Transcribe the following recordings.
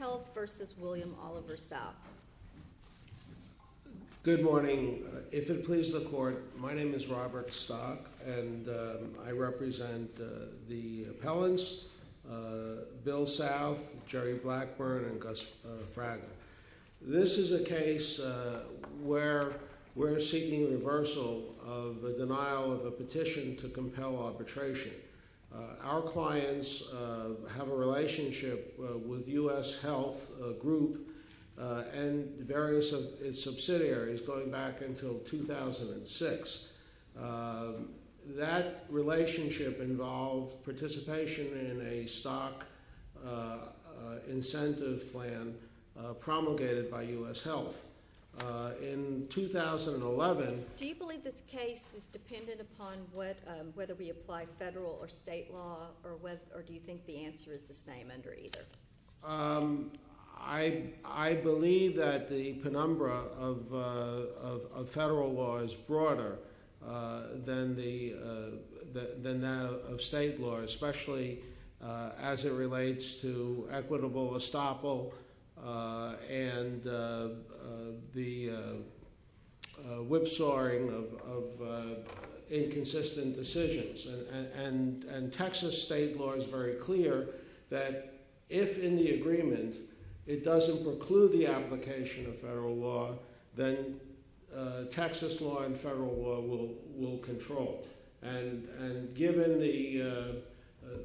al. Good morning. If it pleases the Court, my name is Robert Stock, and I represent the appellants Bill South, Jerry Blackburn, and Gus Fraga. This is a case where we're seeking reversal of the denial of a petition to compel arbitration. Our clients have a relationship with U.S. Health Group and various of its subsidiaries going back until 2006. That relationship involved participation in a stock incentive plan promulgated by U.S. Health. In 2011, I believe that the penumbra of federal law is broader than that of state law, especially as it relates to equitable estoppel and the whipsawing of inconsistent decisions. And Texas state law is very clear that if, in the agreement, it doesn't preclude the application of federal law, then Texas law and federal law will control. And given the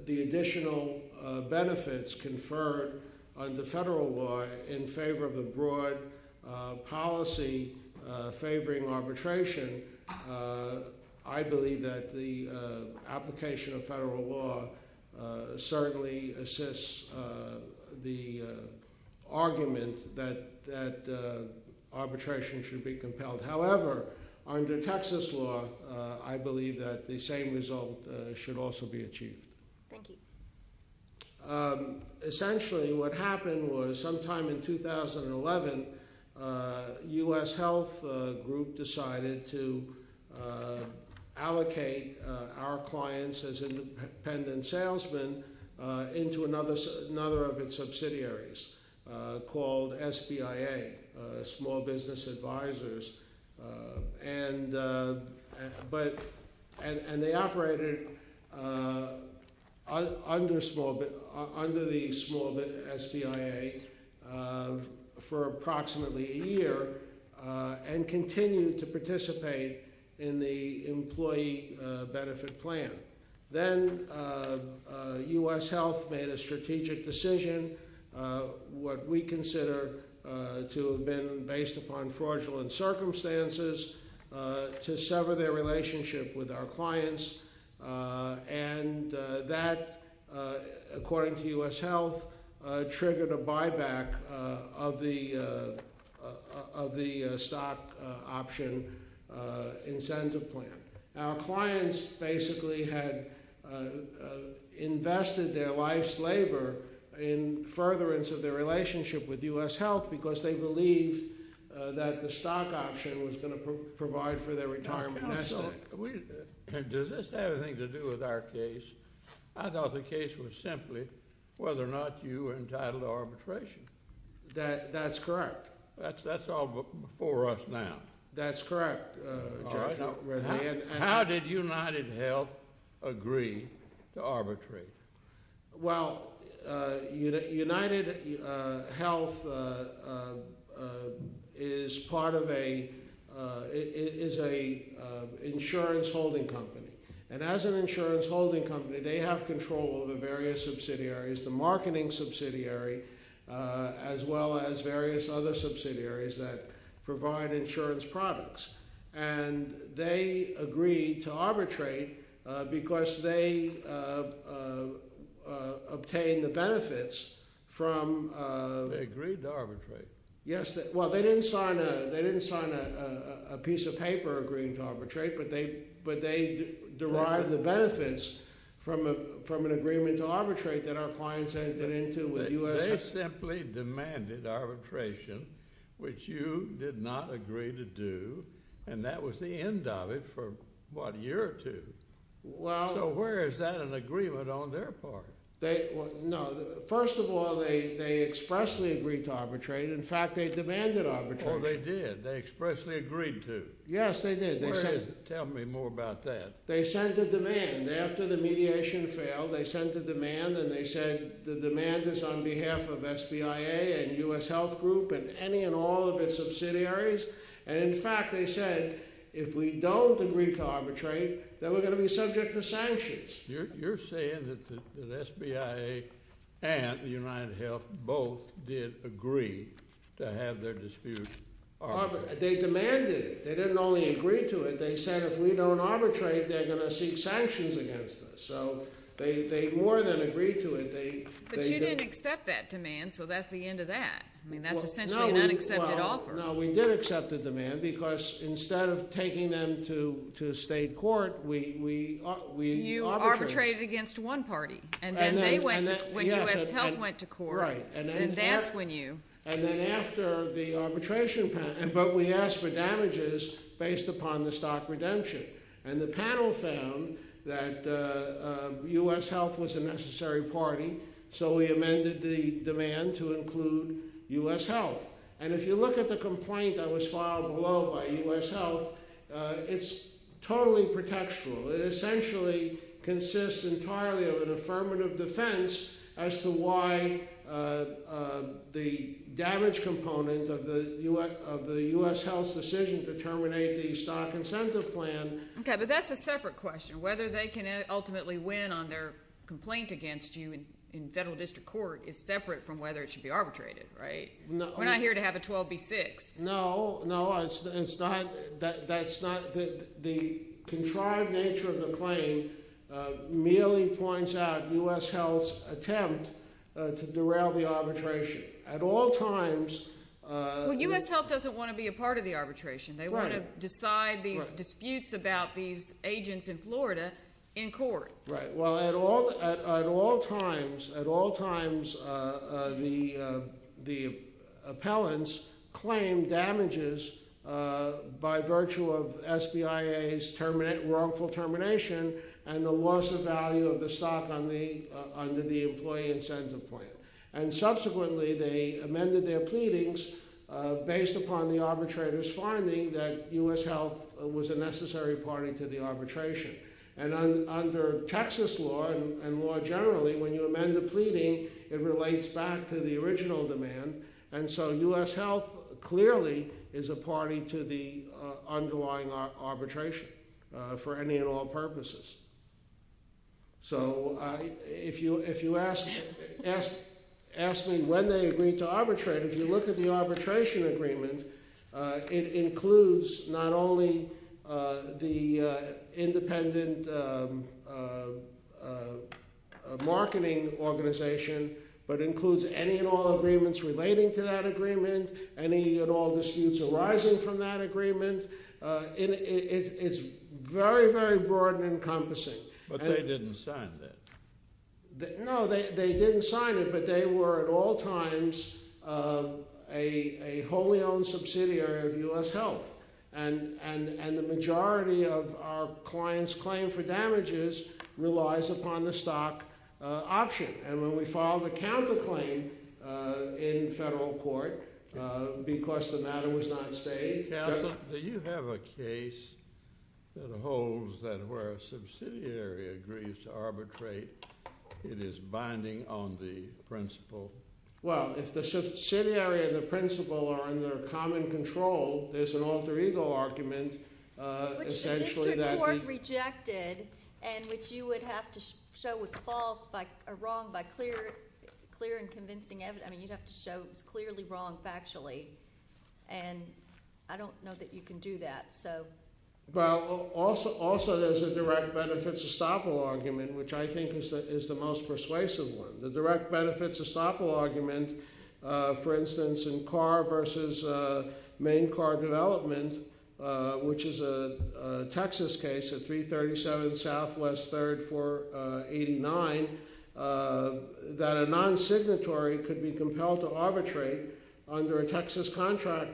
additional benefits conferred under federal law in favor of the broad policy favoring arbitration, I believe that the application of federal law certainly assists the argument that arbitration should be compelled. However, under Texas law, I believe that the same result should also be achieved. Thank you. Essentially, what happened was sometime in 2011, U.S. Health Group decided to allocate our clients as independent salesmen into another of its subsidiaries called SBIA, Small Business Advisors, and they operated under the SBIA for approximately a year and continued to participate in the employee benefit plan. Then U.S. Health made a strategic decision, what we consider to have been based upon fraudulent circumstances, to sever their relationship with our clients, and that, according to U.S. Health, triggered a buyback of the stock option incentive plan. Our clients basically had invested their life's labor in furtherance of their relationship with U.S. Health because they believed that the stock option was going to provide for their retirement. Counsel, does this have anything to do with our case? I thought the case was simply whether or not you were entitled to arbitration. That's correct. That's all before us now. That's correct, Judge. How did UnitedHealth agree to arbitrate? Well, UnitedHealth is part of a, is an insurance holding company, and as an insurance holding company, they have control over various subsidiaries, the marketing subsidiary, as well as various other subsidiaries that provide insurance products. And they agreed to arbitrate because they obtained the benefits from... They agreed to arbitrate. Yes, well, they didn't sign a piece of paper agreeing to arbitrate, but they derived the benefits from an agreement to arbitrate that our clients entered into with U.S. Health. They simply demanded arbitration, which you did not agree to do, and that was the end of it for, what, a year or two? Well... So where is that an agreement on their part? No, first of all, they expressly agreed to arbitrate. In fact, they demanded arbitration. Oh, they did? They expressly agreed to? Yes, they did. Where is it? Tell me more about that. They sent a demand. After the mediation failed, they sent a demand, and they said the demand is on behalf of SBIA and U.S. Health Group and any and all of its subsidiaries. And in fact, they said, if we don't agree to arbitrate, then we're going to be subject to sanctions. You're saying that SBIA and UnitedHealth both did agree to have their dispute arbitrated? They demanded it. They didn't only agree to it. They said, if we don't arbitrate, they're going to seek sanctions against us. So they more than agreed to it. But you didn't accept that demand, so that's the end of that. I mean, that's essentially an unaccepted offer. No, we did accept the demand, because instead of taking them to state court, we arbitrated. You arbitrated against one party, and then they went to... When U.S. Health went to court, that's when you... And then after the arbitration panel... But we asked for damages based upon the stock redemption. And the panel found that U.S. Health was a necessary party, so we amended the demand to include U.S. Health. And if you look at the complaint that was filed below by U.S. Health, it's totally pretextual. It essentially consists entirely of an affirmative defense as to why the damage component of the U.S. Health's decision to terminate the stock incentive plan... Okay, but that's a separate question. Whether they can ultimately win on their complaint against you in federal district court is separate from whether it should be arbitrated, right? We're not here to have a 12-B-6. No, no. That's not... The contrived nature of the claim merely points out U.S. Health's attempt to derail the arbitration. At all times... Well, U.S. Health doesn't want to be a part of the arbitration. They want to decide these disputes about these agents in Florida in court. Right. Well, at all times, the appellants claim damages by virtue of SBIA's wrongful termination and the loss of value of the stock under the employee incentive plan. And subsequently, they amended their pleadings based upon the arbitrator's finding that U.S. Health was a necessary party to the arbitration. And under Texas law and law generally, when you amend a pleading, it relates back to the original demand. And so U.S. Health clearly is a party to the underlying arbitration for any and all purposes. So if you ask me when they agreed to arbitrate, if you look at the arbitration agreement, it includes not only the independent marketing organization, but includes any and all agreements relating to that agreement, any and all disputes arising from that agreement. It's very, very broad and encompassing. But they didn't sign that. No, they didn't sign it, but they were at all times a wholly owned subsidiary of U.S. Health. And the majority of our clients' claim for damages relies upon the stock option. And when we filed the counterclaim in federal court, because the matter was not stayed. Do you have a case that holds that where a subsidiary agrees to arbitrate, it is binding on the principal? Well, if the subsidiary and the principal are under common control, there's an alter ego argument, essentially. Which the district court rejected and which you would have to show was false or wrong by clear and convincing evidence. I mean, you'd have to show it was clearly wrong factually. And I don't know that you can do that, so. Well, also there's a direct benefits estoppel argument, which I think is the most persuasive one. The direct benefits estoppel argument, for instance, in car versus main car development, which is a Texas case, a 337 Southwest 3rd 489, that a non-signatory could be compelled to arbitrate under a Texas contract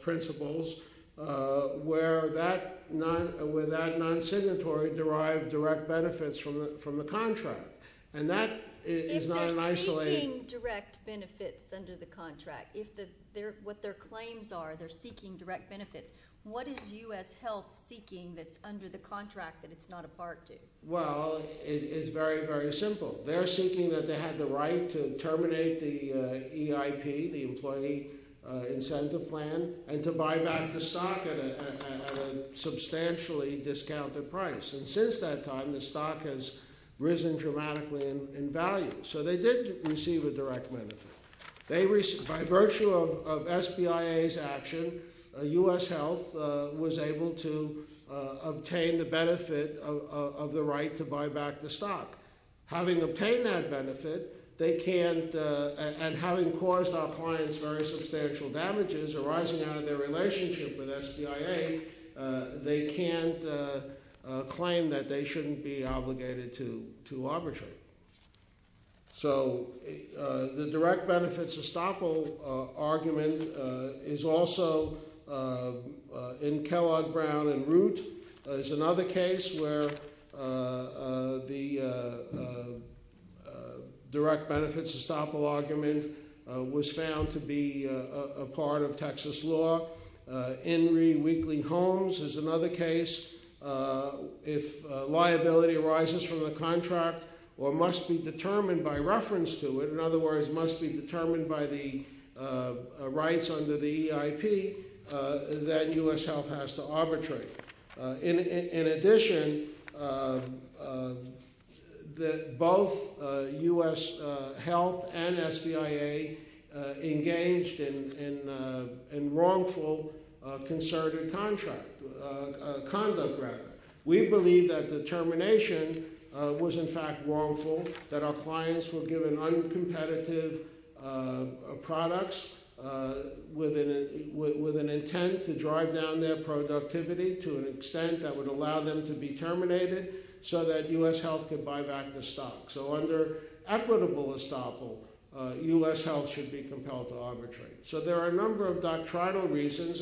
principles where that non-signatory derived direct benefits from the contract. And that is not an isolated- If they're seeking direct benefits under the contract, if what their claims are, they're seeking direct benefits, what is US Health seeking that's under the contract that it's not a part to? Well, it's very, very simple. They're seeking that they had the right to terminate the EIP, the employee incentive plan, and to buy back the stock at a substantially discounted price. And since that time, the stock has risen dramatically in value. So they did receive a direct benefit. By virtue of SBIA's action, US Health was able to obtain the benefit of the right to buy back the stock. Having obtained that benefit, they can't- and having caused our clients very substantial damages arising out of their relationship with SBIA, they can't claim that they shouldn't be obligated to arbitrate. So the direct benefits estoppel argument is also in Kellogg, Brown, and Root. There's another case where the direct benefits estoppel argument was found to be a part of Texas law. In Reed, Wheatley, Holmes is another case. If liability arises from the contract or must be determined by reference to it, in other words, must be determined by the rights under the EIP, then US Health has to arbitrate. In addition, both US Health and SBIA engaged in wrongful concerted conduct. We believe that determination was in fact wrongful, that our clients were given uncompetitive products with an intent to drive down their productivity to an extent that would allow them to be terminated so that US Health could buy back the stock. So under equitable estoppel, US Health should be compelled to arbitrate. So there are a number of doctrinal reasons,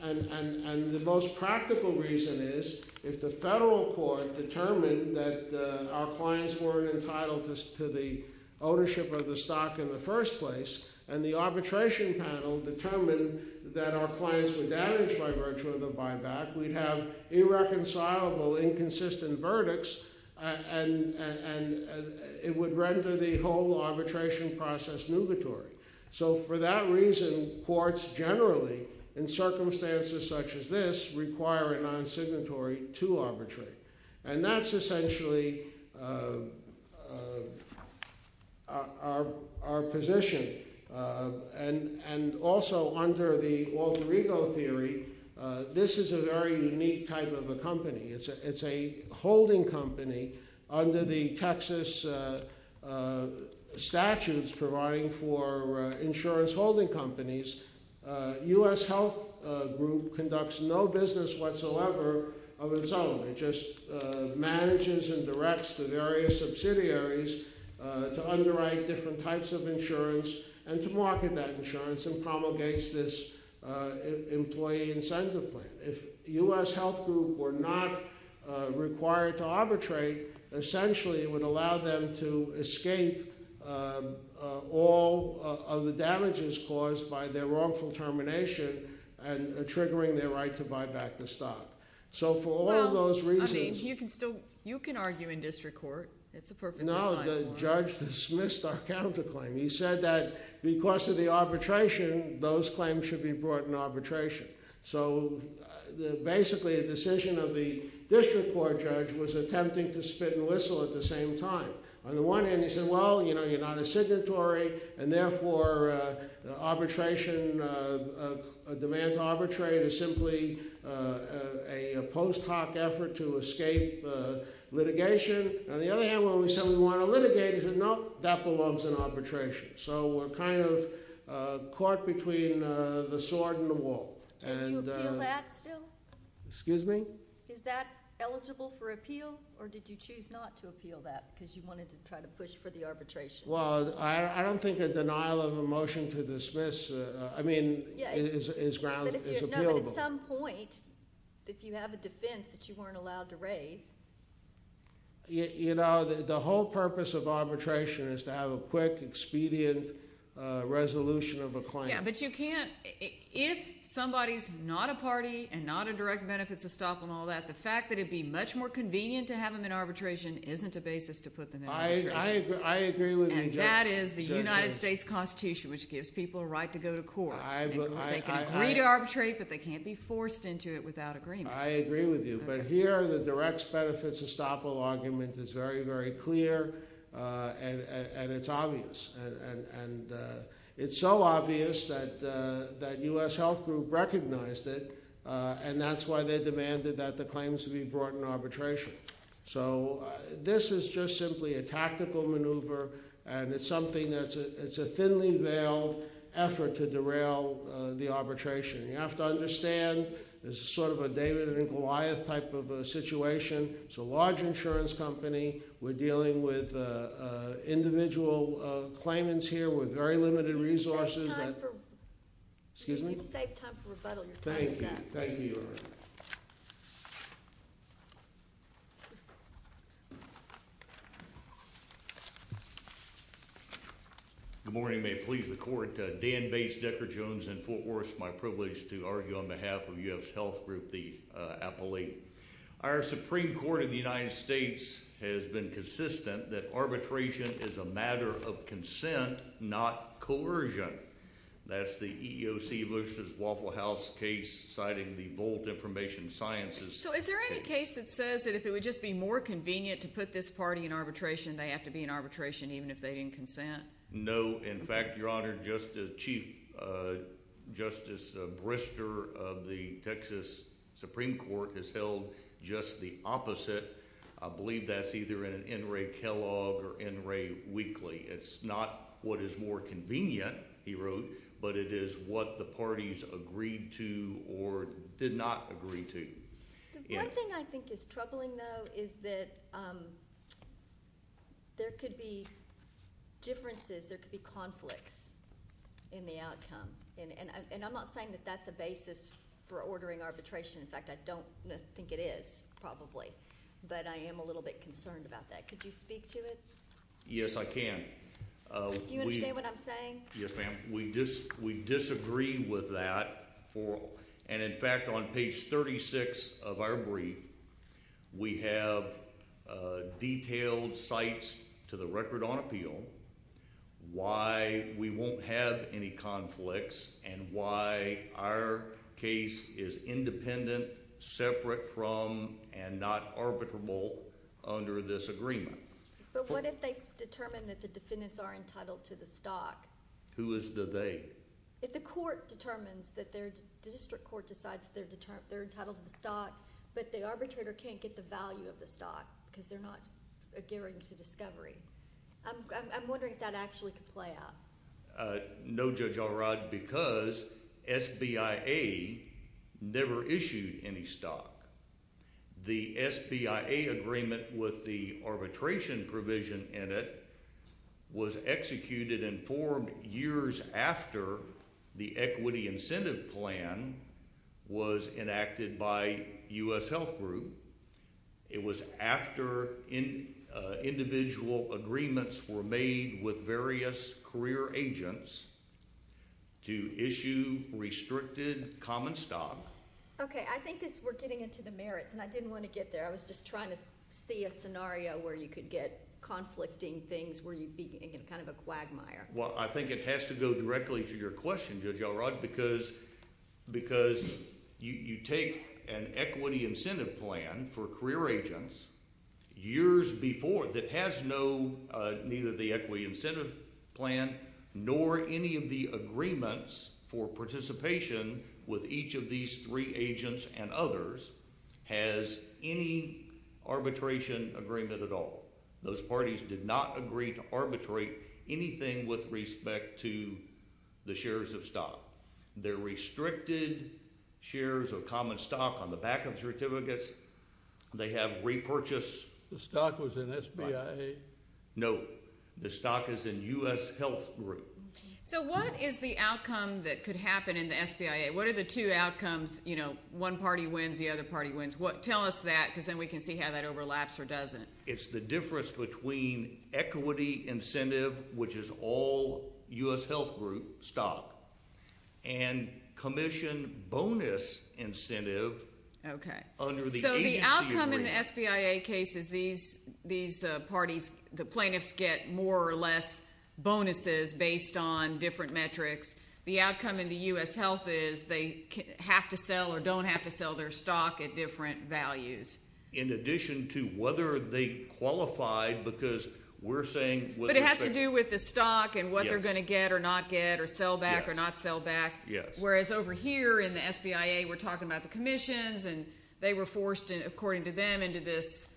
and the most practical reason is if the federal court determined that our clients weren't entitled to the ownership of the stock in the first place, and the arbitration panel determined that our clients were damaged by virtue of the buyback, we'd have irreconcilable inconsistent verdicts and it would render the whole arbitration process nugatory. So for that reason, courts generally, in circumstances such as this, require a non-signatory to arbitrate. And that's essentially our position. And also under the Walter Ego theory, this is a very unique type of a company. It's a holding company under the Texas statutes providing for insurance holding companies. US Health Group conducts no business whatsoever of its own. It just manages and directs the various subsidiaries to underwrite different types of insurance and to market that insurance and promulgates this employee incentive plan. If US Health Group were not required to arbitrate, essentially it would allow them to escape all of the damages caused by their wrongful termination and triggering their right to buy back the stock. So for all of those reasons— Well, I mean, you can still—you can argue in district court. It's a perfectly fine— No, the judge dismissed our counterclaim. He said that because of the arbitration, those claims should be brought in arbitration. So basically a decision of the district court judge was attempting to spit and whistle at the same time. On the one hand, he said, well, you know, you're not a signatory, and therefore the arbitration—a demand to arbitrate is simply a post hoc effort to escape litigation. On the other hand, when we said we want to litigate, he said, no, that belongs in arbitration. So we're kind of caught between the sword and the wall. Can you appeal that still? Excuse me? Is that eligible for appeal? Or did you choose not to appeal that because you wanted to try to push for the arbitration? Well, I don't think a denial of a motion to dismiss—I mean, is ground—is appealable. But at some point, if you have a defense that you weren't allowed to raise— You know, the whole purpose of arbitration is to have a quick, expedient resolution of a claim. Yeah, but you can't—if somebody's not a party and not a direct benefits to stock all that, the fact that it'd be much more convenient to have them in arbitration isn't a basis to put them in arbitration. I agree with you. And that is the United States Constitution, which gives people a right to go to court. They can agree to arbitrate, but they can't be forced into it without agreement. I agree with you. But here, the direct benefits to stock argument is very, very clear, and it's obvious. And it's so obvious that U.S. Health Group recognized it, and that's why they demanded that the claims be brought in arbitration. So, this is just simply a tactical maneuver, and it's something that's—it's a thinly veiled effort to derail the arbitration. You have to understand, this is sort of a David and Goliath type of a situation. It's a large insurance company. We're dealing with individual claimants here with very limited resources that— You've saved time for— Excuse me? You've saved time for rebuttal. You're fine with that. Thank you. Thank you. Good morning. May it please the court. Dan Bates, Decker Jones in Fort Worth. It's my privilege to argue on behalf of U.S. Health Group, the appellate. Our Supreme Court in the United States has been consistent that arbitration is a matter of consent, not coercion. That's the EEOC versus Waffle House case, citing the bold information sciences— So, is there any case that says that if it would just be more convenient to put this party in arbitration, they have to be in arbitration even if they didn't consent? No. In fact, Your Honor, Chief Justice Brister of the Texas Supreme Court has held just the opposite. I believe that's either in an N. Ray Kellogg or N. Ray Weekly. It's not what is more convenient, he wrote, but it is what the parties agreed to or did not agree to. The one thing I think is troubling, though, is that there could be differences, there could be conflicts in the outcome. I'm not saying that that's a basis for ordering arbitration. In fact, I don't think it is, probably, but I am a little bit concerned about that. Could you speak to it? Yes, I can. Do you understand what I'm saying? Yes, ma'am. We disagree with that. And, in fact, on page 36 of our brief, we have detailed sites to the record on appeal why we won't have any conflicts and why our case is independent, separate from, and not arbitrable under this agreement. But what if they determine that the defendants are entitled to the stock? Who is the they? If the court determines that their district court decides they're entitled to the stock, but the arbitrator can't get the value of the stock because they're not adhering to discovery. I'm wondering if that actually could play out. No, Judge Alrod, because SBIA never issued any stock. The SBIA agreement with the arbitration provision in it was executed and formed years after the equity incentive plan was enacted by U.S. Health Group. It was after individual agreements were made with various career agents to issue restricted common stock. Okay, I think we're getting into the merits, and I didn't want to get there. I was just trying to see a scenario where you could get conflicting things where you'd be in kind of a quagmire. Well, I think it has to go directly to your question, Judge Alrod, because you take an equity incentive plan for career agents years before that has neither the equity incentive plan nor any of the agreements for participation with each of these three agents and others has any arbitration agreement at all. Those parties did not agree to arbitrate anything with respect to the shares of stock. They're restricted shares of common stock on the back of certificates. They have repurchase. The stock was in SBIA? No, the stock is in U.S. Health Group. So what is the outcome that could happen in the SBIA? What are the two outcomes, you know, one party wins, the other party wins? Tell us that, because then we can see how that overlaps or doesn't. It's the difference between equity incentive, which is all U.S. Health Group stock, and commission bonus incentive under the agency agreement. In the SBIA cases, these parties, the plaintiffs get more or less bonuses based on different metrics. The outcome in the U.S. Health is they have to sell or don't have to sell their stock at different values. In addition to whether they qualified, because we're saying whether they're fair. But it has to do with the stock and what they're going to get or not get or sell back or not sell back, whereas over here in the SBIA, we're talking about the commissions, and they come into this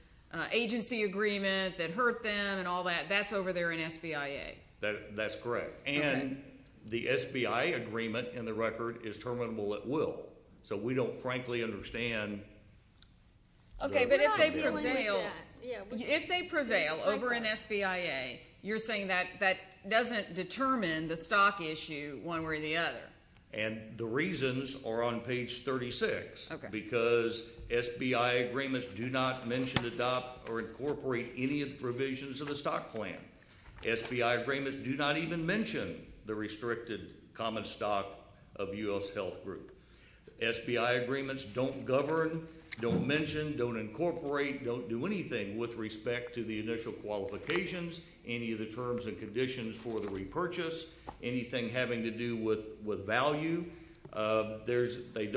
agency agreement that hurt them and all that. That's over there in SBIA. That's correct. And the SBIA agreement in the record is terminable at will. So we don't frankly understand. Okay, but if they prevail over in SBIA, you're saying that that doesn't determine the stock issue one way or the other. And the reasons are on page 36, because SBIA agreements do not mention, adopt, or incorporate any of the provisions of the stock plan. SBIA agreements do not even mention the restricted common stock of U.S. Health Group. SBIA agreements don't govern, don't mention, don't incorporate, don't do anything with respect to the initial qualifications, any of the terms and conditions for the repurchase, anything having to do with value. The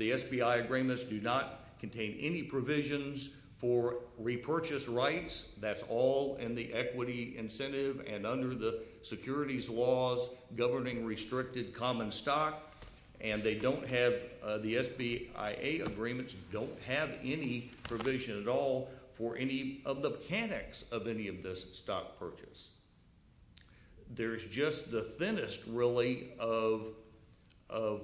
SBIA agreements do not contain any provisions for repurchase rights. That's all in the equity incentive and under the securities laws governing restricted common stock, and they don't have, the SBIA agreements don't have any provision at all for any of the mechanics of any of this stock purchase. There's just the thinnest, really, of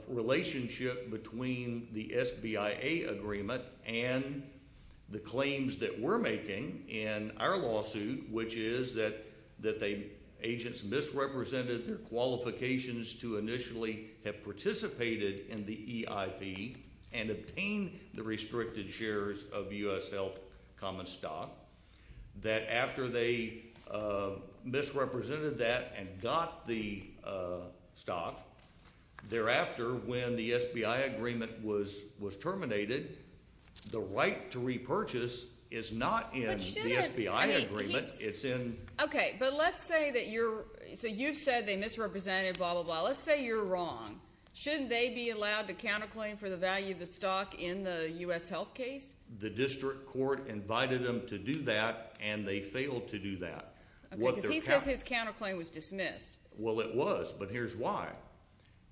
relationship between the SBIA agreement and the claims that we're making in our lawsuit, which is that agents misrepresented their qualifications to initially have participated in the EIV and obtained the restricted shares of U.S. Health common stock, that after they misrepresented that and got the stock, thereafter, when the SBIA agreement was terminated, the right to repurchase is not in the SBIA agreement, it's in... Okay, but let's say that you're, so you've said they misrepresented, blah, blah, blah. Let's say you're wrong. Shouldn't they be allowed to counterclaim for the value of the stock in the U.S. Health case? The district court invited them to do that, and they failed to do that. Okay, because he says his counterclaim was dismissed. Well, it was, but here's why.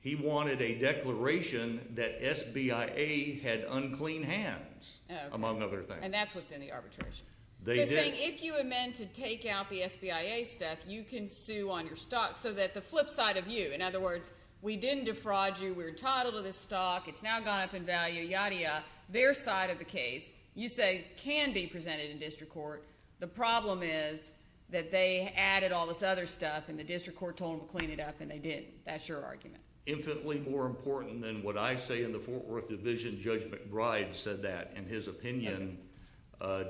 He wanted a declaration that SBIA had unclean hands, among other things. And that's what's in the arbitration. They did. So saying, if you amend to take out the SBIA stuff, you can sue on your stock, so that the flip side of you, in other words, we didn't defraud you, we're entitled to this stock, it's now gone up in value, yadda, yadda, their side of the case, you say, can be presented in district court. The problem is that they added all this other stuff, and the district court told them to clean it up, and they didn't. That's your argument. Infinitely more important than what I say in the Fort Worth division, Judge McBride said that in his opinion,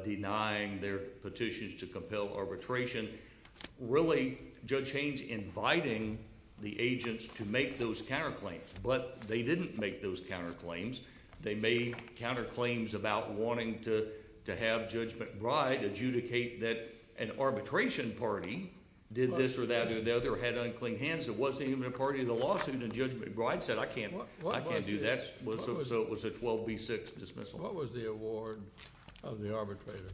denying their petitions to compel arbitration. Really, Judge Haynes inviting the agents to make those counterclaims, but they didn't make those counterclaims. They made counterclaims about wanting to have Judge McBride adjudicate that an arbitration party did this or that, or the other had unclean hands, it wasn't even a part of the lawsuit, and Judge McBride said, I can't do that, so it was a 12B6 dismissal. What was the award of the arbitrator?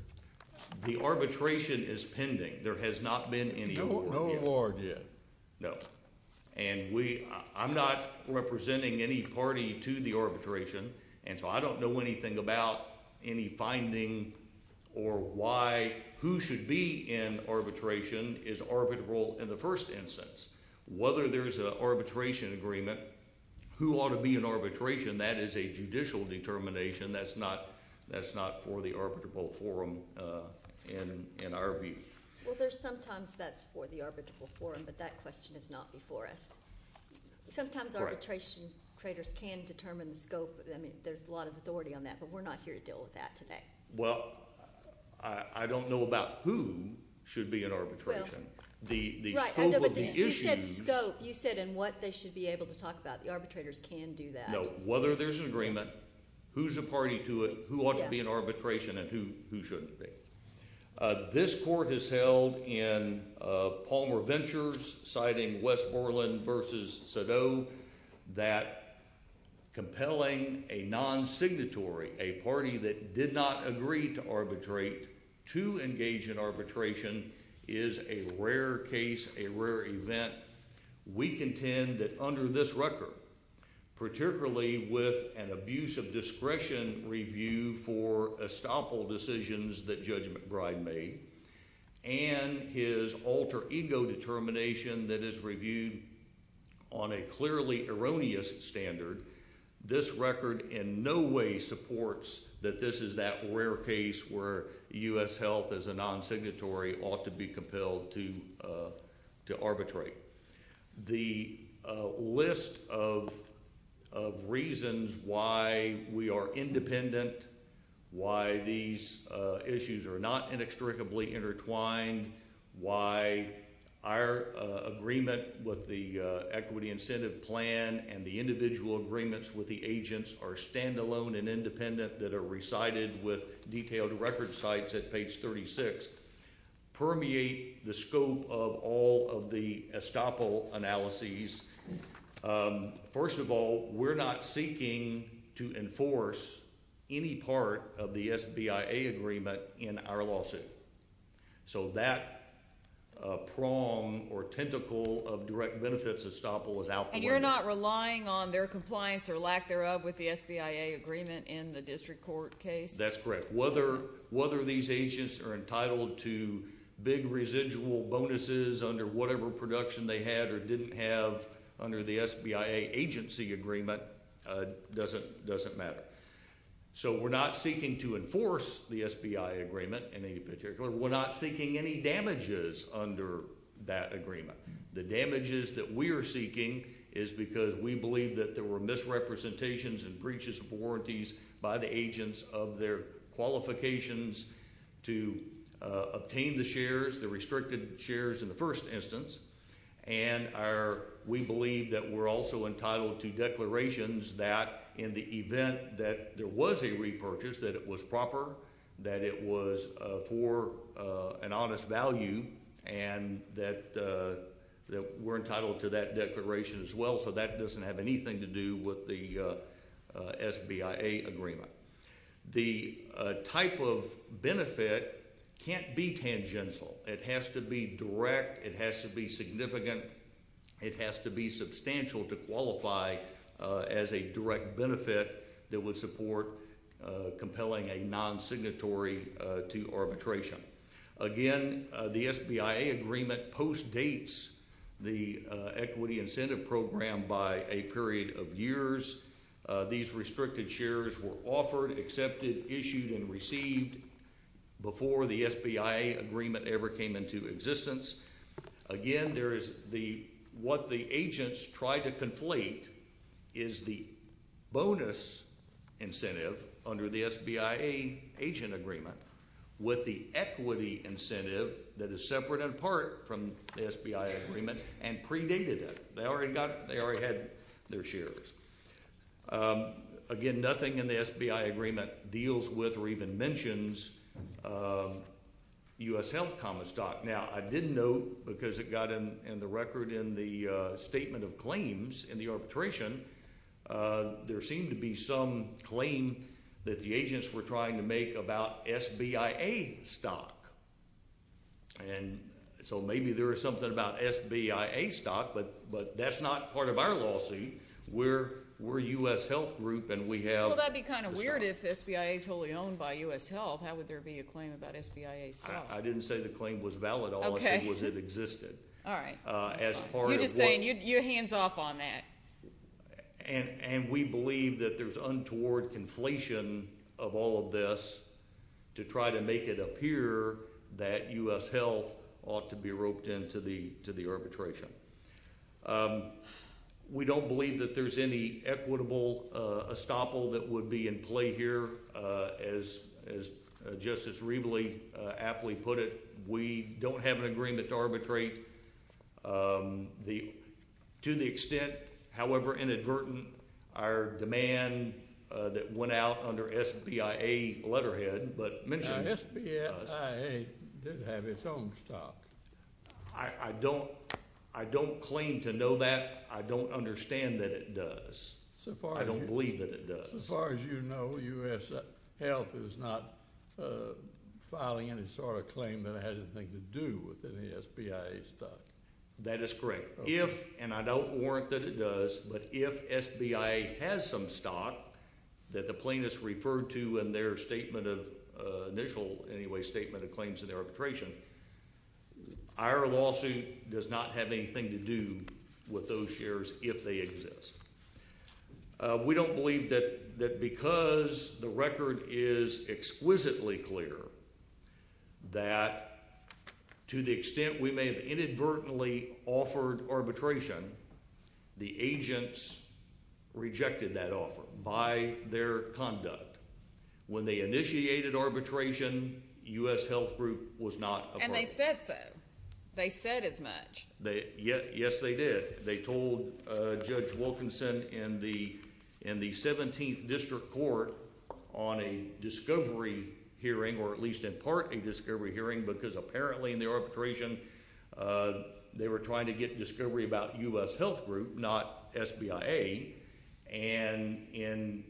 The arbitration is pending. There has not been any award yet. No award yet? No. And I'm not representing any party to the arbitration, and so I don't know anything about any finding or why who should be in arbitration is arbitrable in the first instance. Whether there's an arbitration agreement, who ought to be in arbitration, that is a judicial determination. That's not for the arbitrable forum in our view. Well, sometimes that's for the arbitrable forum, but that question is not before us. Sometimes arbitration traders can determine the scope. I mean, there's a lot of authority on that, but we're not here to deal with that today. Well, I don't know about who should be in arbitration. Well, right, I know, but you said scope. You said in what they should be able to talk about. The arbitrators can do that. No, whether there's an agreement, who's a party to it, who ought to be in arbitration, and who shouldn't be. This court has held in Palmer Ventures, citing Westmoreland versus Sado, that compelling a non-signatory, a party that did not agree to arbitrate, to engage in arbitration is a rare case, a rare event. We contend that under this record, particularly with an abuse of discretion review for estoppel decisions that Judge McBride made, and his alter ego determination that is reviewed on a clearly erroneous standard, this record in no way supports that this is that rare case where U.S. health as a non-signatory ought to be compelled to arbitrate. The list of reasons why we are independent, why these issues are not inextricably intertwined, why our agreement with the equity incentive plan and the individual agreements with the agents are standalone and independent that are recited with detailed record sites at estoppel analyses, first of all, we're not seeking to enforce any part of the SBIA agreement in our lawsuit. So that prong or tentacle of direct benefits of estoppel is out the window. And you're not relying on their compliance or lack thereof with the SBIA agreement in the district court case? That's correct. Whether these agents are entitled to big residual bonuses under whatever production they had or didn't have under the SBIA agency agreement doesn't matter. So we're not seeking to enforce the SBIA agreement in any particular. We're not seeking any damages under that agreement. The damages that we are seeking is because we believe that there were misrepresentations and breaches of warranties by the agents of their qualifications to obtain the shares, the restricted shares in the first instance. And we believe that we're also entitled to declarations that in the event that there was a repurchase, that it was proper, that it was for an honest value, and that we're entitled to that declaration as well. So that doesn't have anything to do with the SBIA agreement. The type of benefit can't be tangential. It has to be direct. It has to be significant. It has to be substantial to qualify as a direct benefit that would support compelling a non-signatory to arbitration. Again, the SBIA agreement postdates the equity incentive program by a period of years. These restricted shares were offered, accepted, issued, and received before the SBIA agreement ever came into existence. Again, there is the, what the agents try to conflate is the bonus incentive under the equity incentive that is separate and apart from the SBIA agreement and predated it. They already got, they already had their shares. Again, nothing in the SBIA agreement deals with or even mentions U.S. health common stock. Now, I didn't know because it got in the record in the statement of claims in the arbitration, there seemed to be some claim that the agents were trying to make about SBIA stock. And so maybe there is something about SBIA stock, but that's not part of our lawsuit. We're a U.S. health group and we have- Well, that'd be kind of weird if SBIA is wholly owned by U.S. health. How would there be a claim about SBIA stock? I didn't say the claim was valid. All I said was it existed. All right. As part of what- You're just saying, you're hands off on that. And we believe that there's untoward conflation of all of this to try to make it appear that U.S. health ought to be roped into the arbitration. We don't believe that there's any equitable estoppel that would be in play here. As Justice Reveley aptly put it, we don't have an agreement to arbitrate. To the extent, however inadvertent, our demand that went out under SBIA letterhead, but- Now, SBIA did have its own stock. I don't claim to know that. I don't understand that it does. So far- I don't believe that it does. So far as you know, U.S. health is not filing any sort of claim that it had anything to do with any SBIA stock. That is correct. If, and I don't warrant that it does, but if SBIA has some stock that the plaintiffs referred to in their statement of, initial anyway, statement of claims in their arbitration, our lawsuit does not have anything to do with those shares if they exist. We don't believe that because the record is exquisitely clear that to the extent we may have inadvertently offered arbitration, the agents rejected that offer by their conduct. When they initiated arbitration, U.S. health group was not- And they said so. They said as much. Yes, they did. They told Judge Wilkinson in the 17th District Court on a discovery hearing, or at least in part a discovery hearing, because apparently in the arbitration they were trying to get discovery about U.S. health group, not SBIA, and in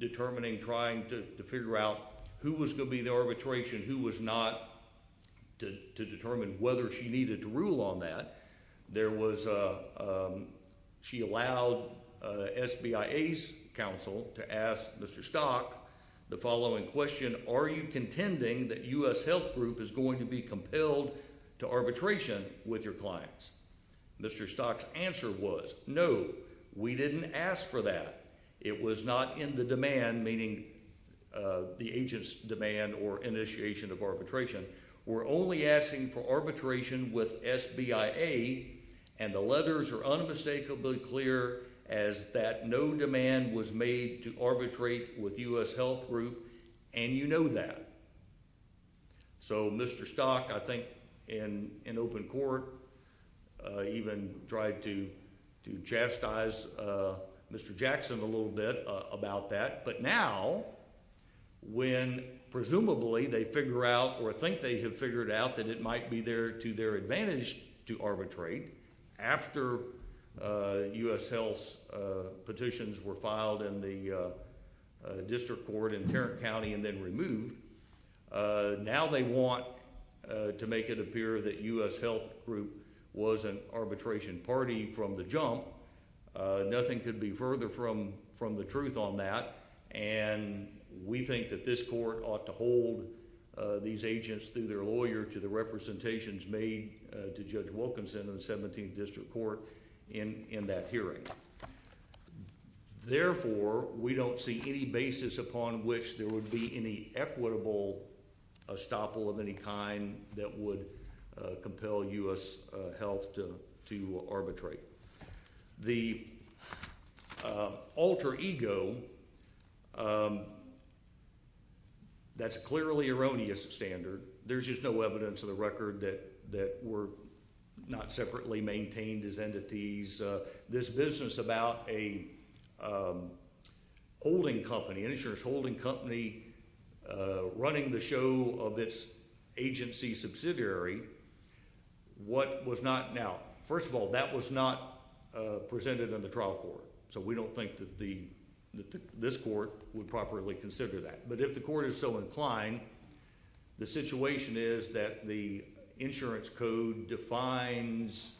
determining, trying to figure out who was going to be in the arbitration, who was not, to determine whether she needed to rule on that, there was, she allowed SBIA's counsel to ask Mr. Stock the following question, are you contending that U.S. health group is going to be compelled to arbitration with your clients? Mr. Stock's answer was, no, we didn't ask for that. It was not in the demand, meaning the agent's demand or initiation of arbitration. We're only asking for arbitration with SBIA, and the letters are unmistakably clear as that no demand was made to arbitrate with U.S. health group, and you know that. So Mr. Stock, I think in open court even tried to chastise Mr. Jackson a little bit about that, but now when presumably they figure out or think they have figured out that it might be to their advantage to arbitrate, after U.S. health's petitions were filed in the district court in Tarrant County and then removed, now they want to make it appear that U.S. health group was an arbitration party from the jump. Nothing could be further from the truth on that, and we think that this court ought to hold these agents through their lawyer to the representations made to Judge Wilkinson in the 17th district court in that hearing. Therefore, we don't see any basis upon which there would be any equitable estoppel of any kind that would compel U.S. health to arbitrate. The alter ego, that's clearly erroneous standard. There's just no evidence of the record that were not separately maintained as entities. This business about an insurance holding company running the show of its agency subsidiary, what was not, now, first of all, that was not presented in the trial court, so we don't think that this court would properly consider that. But if the court is so inclined, the situation is that the insurance code defines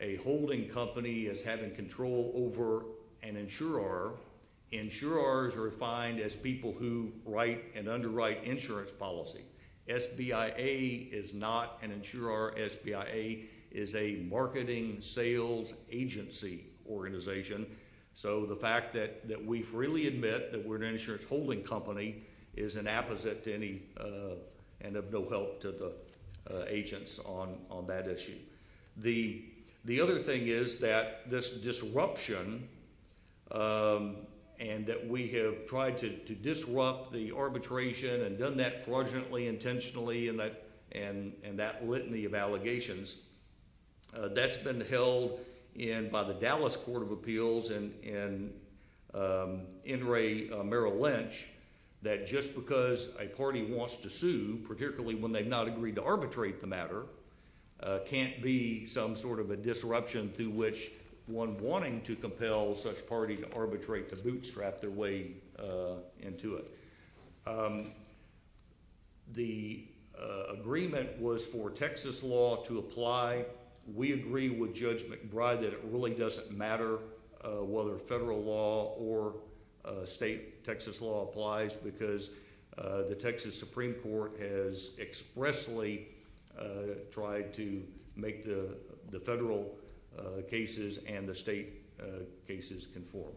a holding company as having control over an insurer, insurers are defined as people who write and underwrite insurance policy. SBIA is not an insurer. SBIA is a marketing sales agency organization, so the fact that we freely admit that we're an insurance holding company is an apposite to any and of no help to the agents on that issue. The other thing is that this disruption and that we have tried to disrupt the arbitration and done that fraudulently, intentionally, and that litany of allegations, that's been held by the Dallas Court of Appeals and N. Ray Merrill Lynch, that just because a party wants to sue, particularly when they've not agreed to arbitrate the matter, can't be some sort of a disruption through which one wanting to compel such a party to arbitrate, to bootstrap their way into it. The agreement was for Texas law to apply. We agree with Judge McBride that it really doesn't matter whether federal law or state Texas law applies because the Texas Supreme Court has expressly tried to make the federal cases and the state cases conform.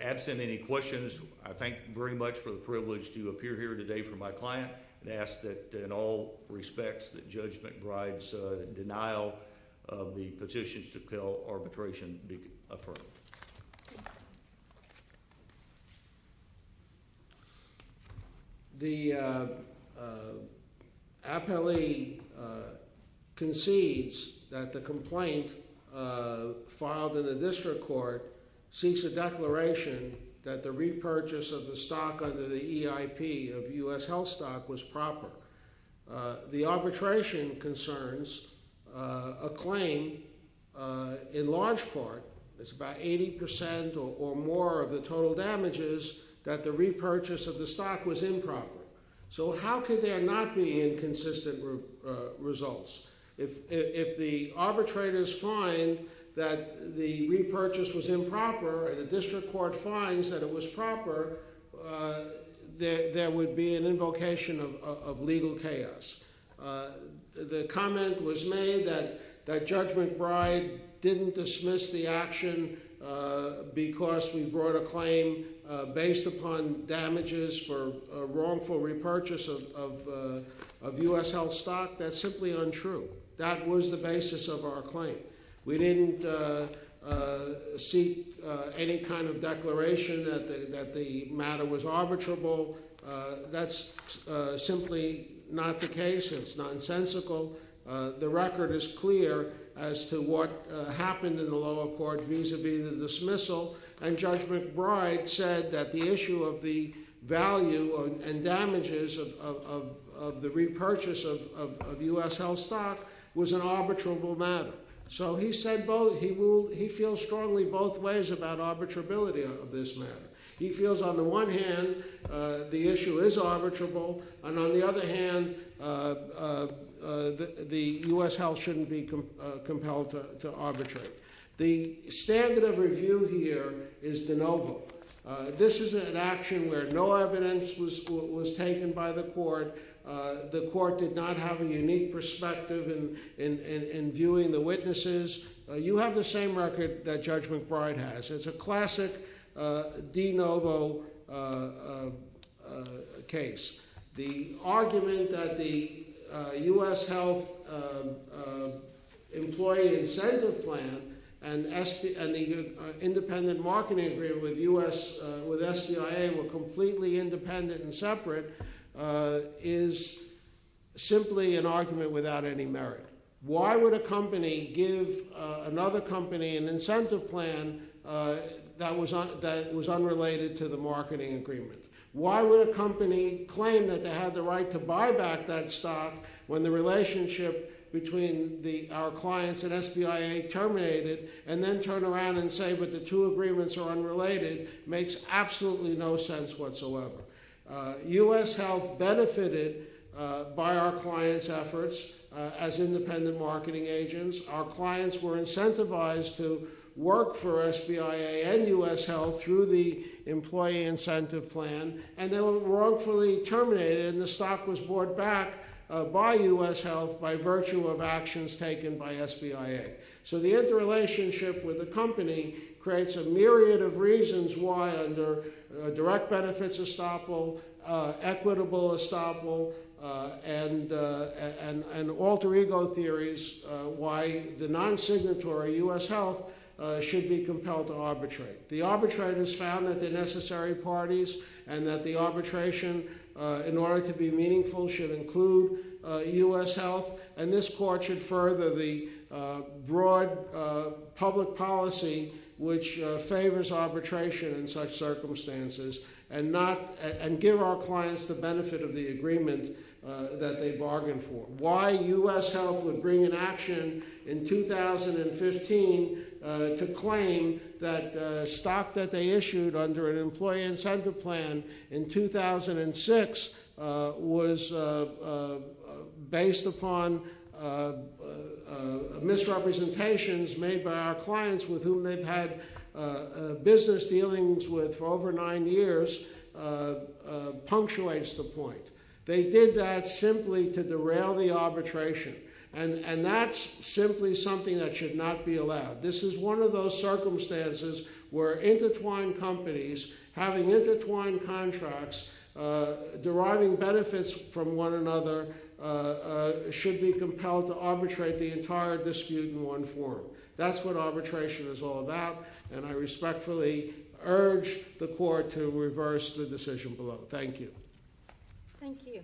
Absent any questions, I thank very much for the privilege to appear here today for my client and ask that in all respects that Judge McBride's denial of the petitions to compel arbitration be affirmed. The appellee concedes that the complaint filed in the district court seeks a declaration that the repurchase of the stock under the EIP of U.S. Health Stock was proper. The arbitration concerns a claim in large part, it's about 80% or more of the total damages, that the repurchase of the stock was improper. So how could there not be inconsistent results? If the arbitrators find that the repurchase was improper and the district court finds that it was proper, there would be an invocation of legal chaos. The comment was made that Judge McBride didn't dismiss the action because we brought a claim based upon damages for a wrongful repurchase of U.S. Health Stock, that's simply untrue. That was the basis of our claim. We didn't seek any kind of declaration that the matter was arbitrable. That's simply not the case. It's nonsensical. The record is clear as to what happened in the lower court vis-a-vis the dismissal. And Judge McBride said that the issue of the value and damages of the repurchase of U.S. Health Stock was an arbitrable matter. So he said both, he feels strongly both ways about arbitrability of this matter. He feels on the one hand, the issue is arbitrable, and on the other hand, the U.S. Health shouldn't be compelled to arbitrate. The standard of review here is de novo. This is an action where no evidence was taken by the court. The court did not have a unique perspective in viewing the witnesses. You have the same record that Judge McBride has. It's a classic de novo case. The argument that the U.S. Health Employee Incentive Plan and the independent marketing agreement with SBIA were completely independent and separate is simply an argument without any merit. Why would a company give another company an incentive plan that was unrelated to the marketing agreement? Why would a company claim that they had the right to buy back that stock when the relationship between our clients and SBIA terminated, and then turn around and say, but the two agreements are unrelated, makes absolutely no sense whatsoever. U.S. Health benefited by our clients' efforts as independent marketing agents. Our clients were incentivized to work for SBIA and U.S. Health through the Employee Incentive Plan, and they were wrongfully terminated, and the stock was bought back by U.S. Health by virtue of actions taken by SBIA. So the interrelationship with a company creates a myriad of reasons why, under direct benefits estoppel, equitable estoppel, and alter ego theories, why the non-signatory U.S. Health should be compelled to arbitrate. The arbitrators found that they're necessary parties, and that the arbitration, in order to be meaningful, should include U.S. Health, and this court should further the broad public policy which favors arbitration in such circumstances, and give our clients the benefit of the agreement that they bargained for. Why U.S. Health would bring an action in 2015 to claim that stock that they issued under an Employee Incentive Plan in 2006 was based upon misrepresentations made by our clients with whom they've had business dealings with for over nine years punctuates the point. They did that simply to derail the arbitration, and that's simply something that should not be allowed. This is one of those circumstances where intertwined companies, having intertwined contracts, deriving benefits from one another, should be compelled to arbitrate the entire dispute in one form. That's what arbitration is all about, and I respectfully urge the court to reverse the decision below. Thank you. Thank you.